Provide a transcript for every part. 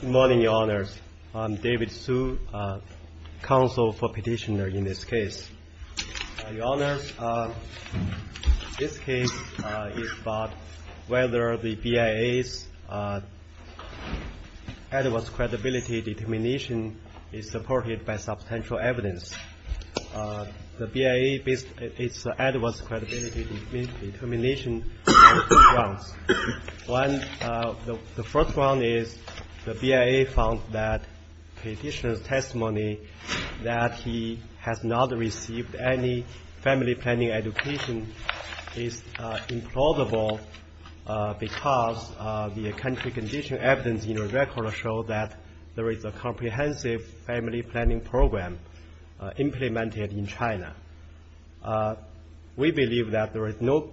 Good morning, Your Honors. I'm David Su, counsel for petitioner in this case. Your Honors, this case is about whether the BIA's adverse credibility determination is supported by substantial evidence. The BIA based its adverse credibility determination on two grounds. One, the first one is the BIA found that petitioner's testimony that he has not received any family planning education is implausible because the country condition evidence in your record show that there is a comprehensive family planning program implemented in China. We believe that there is no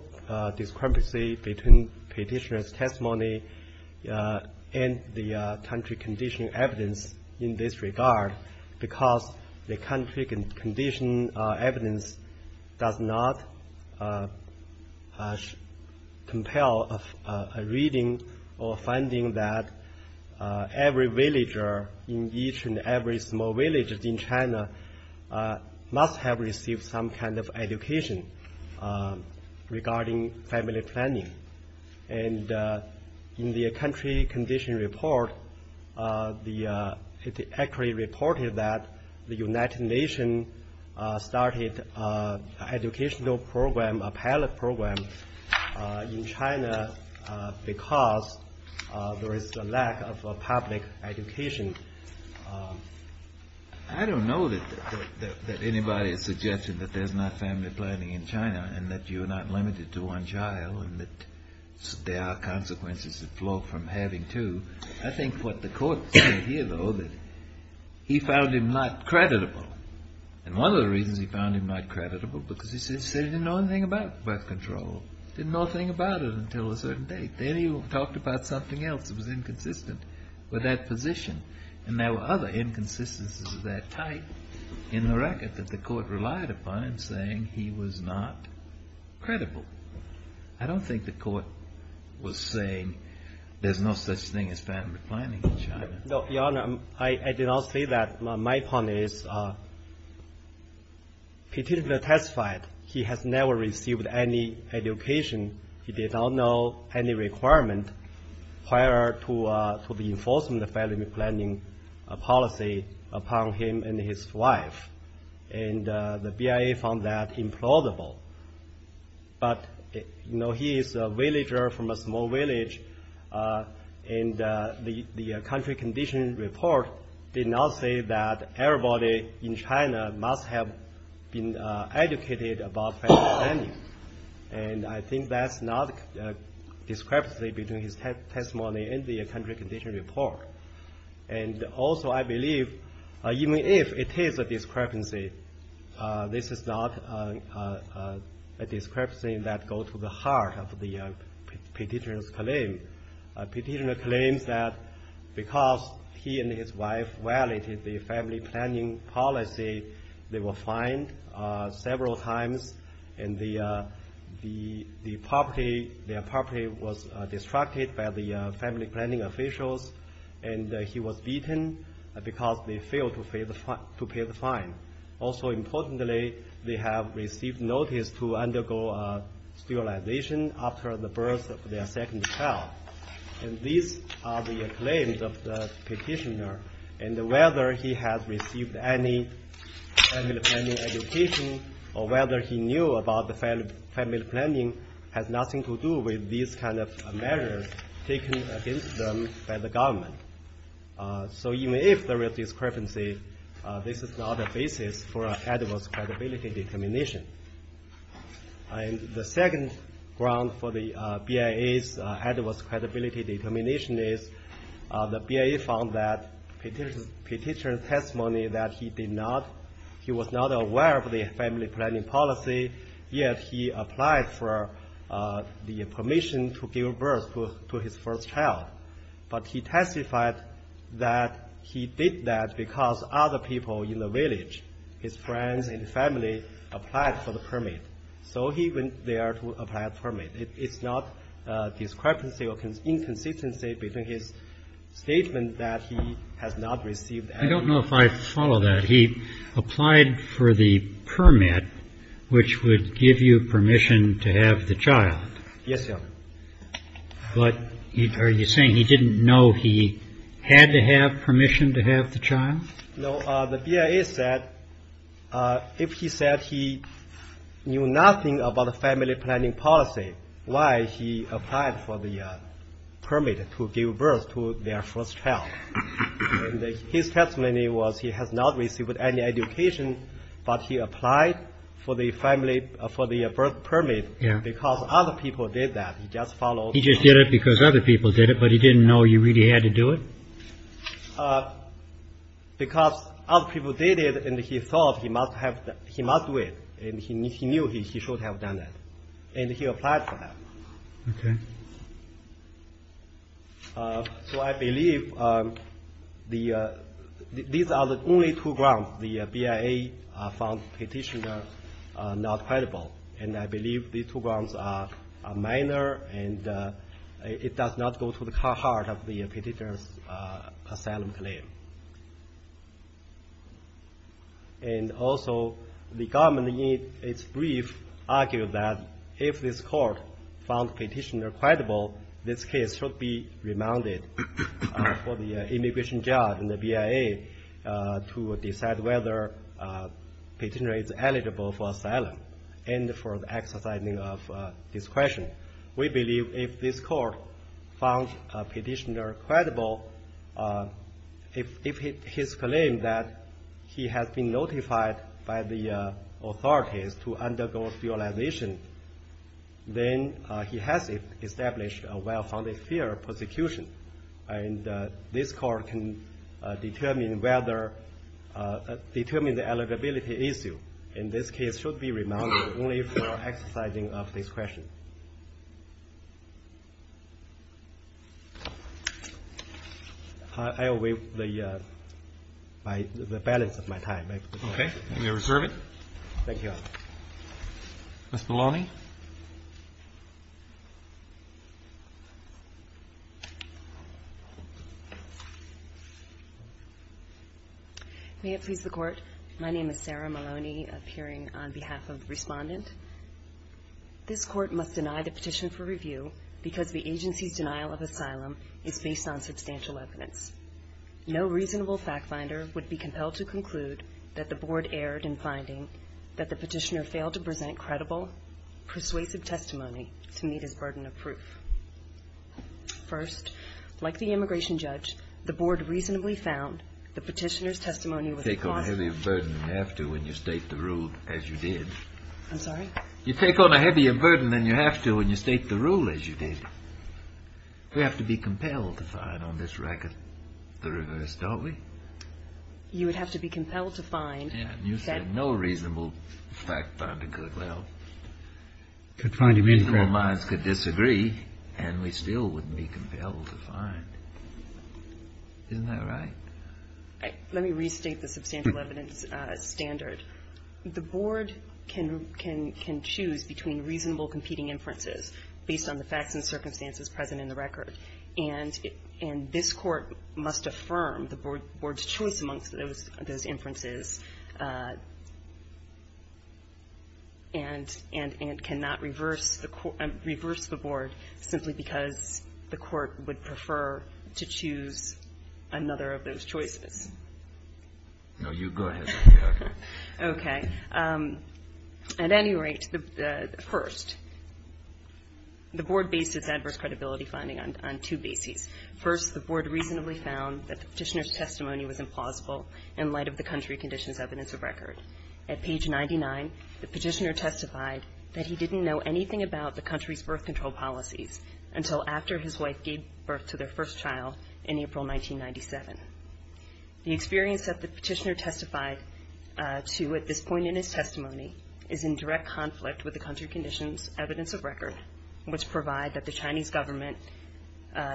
discrepancy between petitioner's testimony and the country condition evidence in this regard because the country condition evidence does not compel a reading or finding that every villager in each and every small village in China must have received some kind of education regarding family planning. And in the country condition report, it actually reported that the United Nations started educational program, a pilot program in China because there is a lack of public education. So I don't know that anybody is suggesting that there's not family planning in China and that you're not limited to one child and that there are consequences that flow from having two. I think what the court said here, though, that he found him not creditable. And one of the reasons he found him not creditable because he said he didn't know anything about birth control. Didn't know a thing about it until a certain date. Then he talked about something else that was inconsistent with that position. And there were other inconsistencies of that type in the record that the court relied upon saying he was not credible. I don't think the court was saying there's no such thing as family planning in China. Your Honor, I did not say that. My point is, particularly testified, he has never received any education. He did not know any requirement prior to the enforcement of family planning policy upon him and his wife. And the BIA found that implausible. But, you know, he is a villager from a small village, and the country condition report did not say that everybody in China must have been educated about family planning. And I think that's not a discrepancy between his testimony and the country condition report. And also, I believe, even if it is a discrepancy, this is not a discrepancy that goes to the heart of the petitioner's claim. Petitioner claims that because he and his wife violated the family planning policy, they were fined several times, and their property was destructed by the family planning officials, and he was beaten because they failed to pay the fine. Also, importantly, they have received notice to undergo sterilization after the birth of their second child. And these are the claims of the petitioner. And whether he has received any family planning education, or whether he knew about the family planning, has nothing to do with these kind of measures taken against them by the government. So even if there is discrepancy, this is not a basis for an adverse credibility determination. And the second ground for the BIA's adverse credibility determination is, the BIA found that the petitioner's testimony that he was not aware of the family planning policy, yet he applied for the permission to give birth to his first child. But he testified that he did that because other people in the village, his friends and family, applied for the permit. So he went there to apply for a permit. It's not a discrepancy or inconsistency between his statement that he has not received any of that. I don't know if I follow that. He applied for the permit, which would give you permission to have the child. Yes, Your Honor. But are you saying he didn't know he had to have permission to have the child? No. The BIA said if he said he knew nothing about the family planning policy, why he applied for the permit to give birth to their first child. His testimony was he has not received any education, but he applied for the birth permit because other people did that. He just followed. He just did it because other people did it, but he didn't know you really had to do it? Because other people did it, and he thought he must have, he must do it. And he knew he should have done that. And he applied for that. Okay. So I believe these are the only two grounds the BIA found petitioner not credible. And I believe these two grounds are minor, and it does not go to the heart of the petitioner's asylum claim. And also the government in its brief argued that if this court found petitioner credible, this case should be remanded for the immigration judge and the BIA to decide whether petitioner is eligible for asylum. And for the exercising of discretion. We believe if this court found petitioner credible, if his claim that he has been notified by the authorities to undergo sterilization, then he has established a well-founded fear of prosecution. And this court can determine whether, determine the eligibility issue. And this case should be remanded only for exercising of discretion. I will wait the balance of my time. Okay. You reserve it. Thank you, Your Honor. Ms. Maloney. May it please the Court. My name is Sarah Maloney, appearing on behalf of the respondent. This court must deny the petition for review because the agency's denial of asylum is based on substantial evidence. No reasonable fact finder would be compelled to conclude that the board erred in finding that the petitioner failed to present credible, persuasive testimony to meet his burden of proof. First, like the immigration judge, the board reasonably found the petitioner's testimony was- You take on a heavier burden than you have to when you state the rule as you did. I'm sorry? You take on a heavier burden than you have to when you state the rule as you did. We have to be compelled to find on this record the reverse, don't we? You would have to be compelled to find- Yeah, and you said no reasonable fact finder could, well- Could find a reasonable- People of minds could disagree, and we still wouldn't be compelled to find. Isn't that right? Let me restate the substantial evidence standard. The board can choose between reasonable competing inferences based on the facts and circumstances present in the record, and this court must affirm the board's choice amongst those inferences and cannot reverse the board simply because the court would prefer to choose another of those choices. No, you go ahead. Okay. At any rate, first, the board based its adverse credibility finding on two bases. First, the board reasonably found that the petitioner's testimony was implausible in light of the country conditions evidence of record. At page 99, the petitioner testified that he didn't know anything about the country's birth control policies until after his wife gave birth to their first child in April 1997. The experience that the petitioner testified to at this point in his testimony is in direct conflict with the country conditions evidence of record, which provide that the Chinese government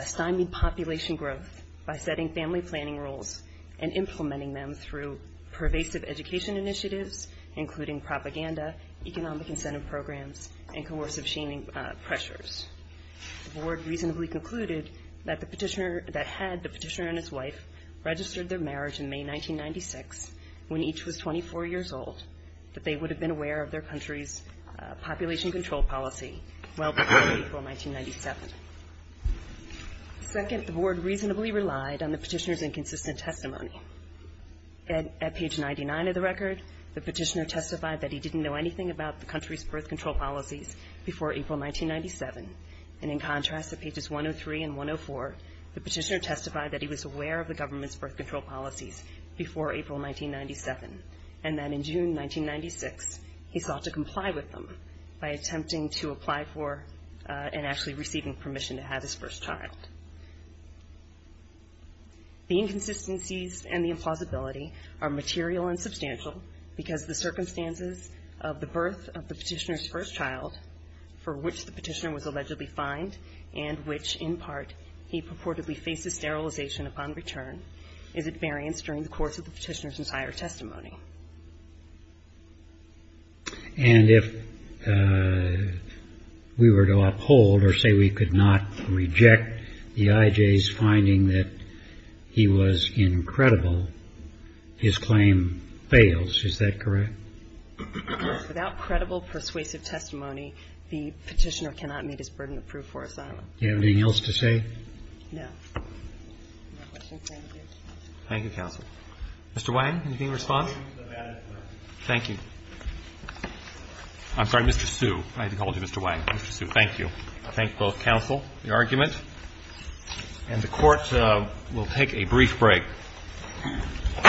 stymied population growth by setting family planning rules and implementing them through pervasive education initiatives, including propaganda, economic incentive programs, and coercive shaming pressures. First, the board reasonably concluded that the petitioner, that had the petitioner and his wife registered their marriage in May 1996 when each was 24 years old, that they would have been aware of their country's population control policy well before April 1997. Second, the board reasonably relied on the petitioner's inconsistent testimony. At page 99 of the record, the petitioner testified that he didn't know anything about the country's birth control policies before April 1997. And in contrast, at pages 103 and 104, the petitioner testified that he was aware of the government's birth control policies before April 1997, and that in June 1996, he sought to comply with them by attempting to apply for and actually receiving permission to have his first child. The inconsistencies and the implausibility are material and substantial because the circumstances of the birth of the petitioner's first child, for which the petitioner was allegedly fined and which, in part, he purportedly faces sterilization upon return, is at variance during the course of the petitioner's entire testimony. And if we were to uphold or say we could not reject the IJ's finding that he was incredible, his claim fails. Is that correct? Without credible persuasive testimony, the petitioner cannot meet his burden of proof for asylum. Do you have anything else to say? No. No questions? Thank you. Thank you, counsel. Mr. Wang, anything to respond? I have nothing to add. Thank you. I'm sorry, Mr. Sue. I had to call you Mr. Wang. Mr. Sue, thank you. I thank both counsel, the argument. And the Court will take a brief break. Thank you.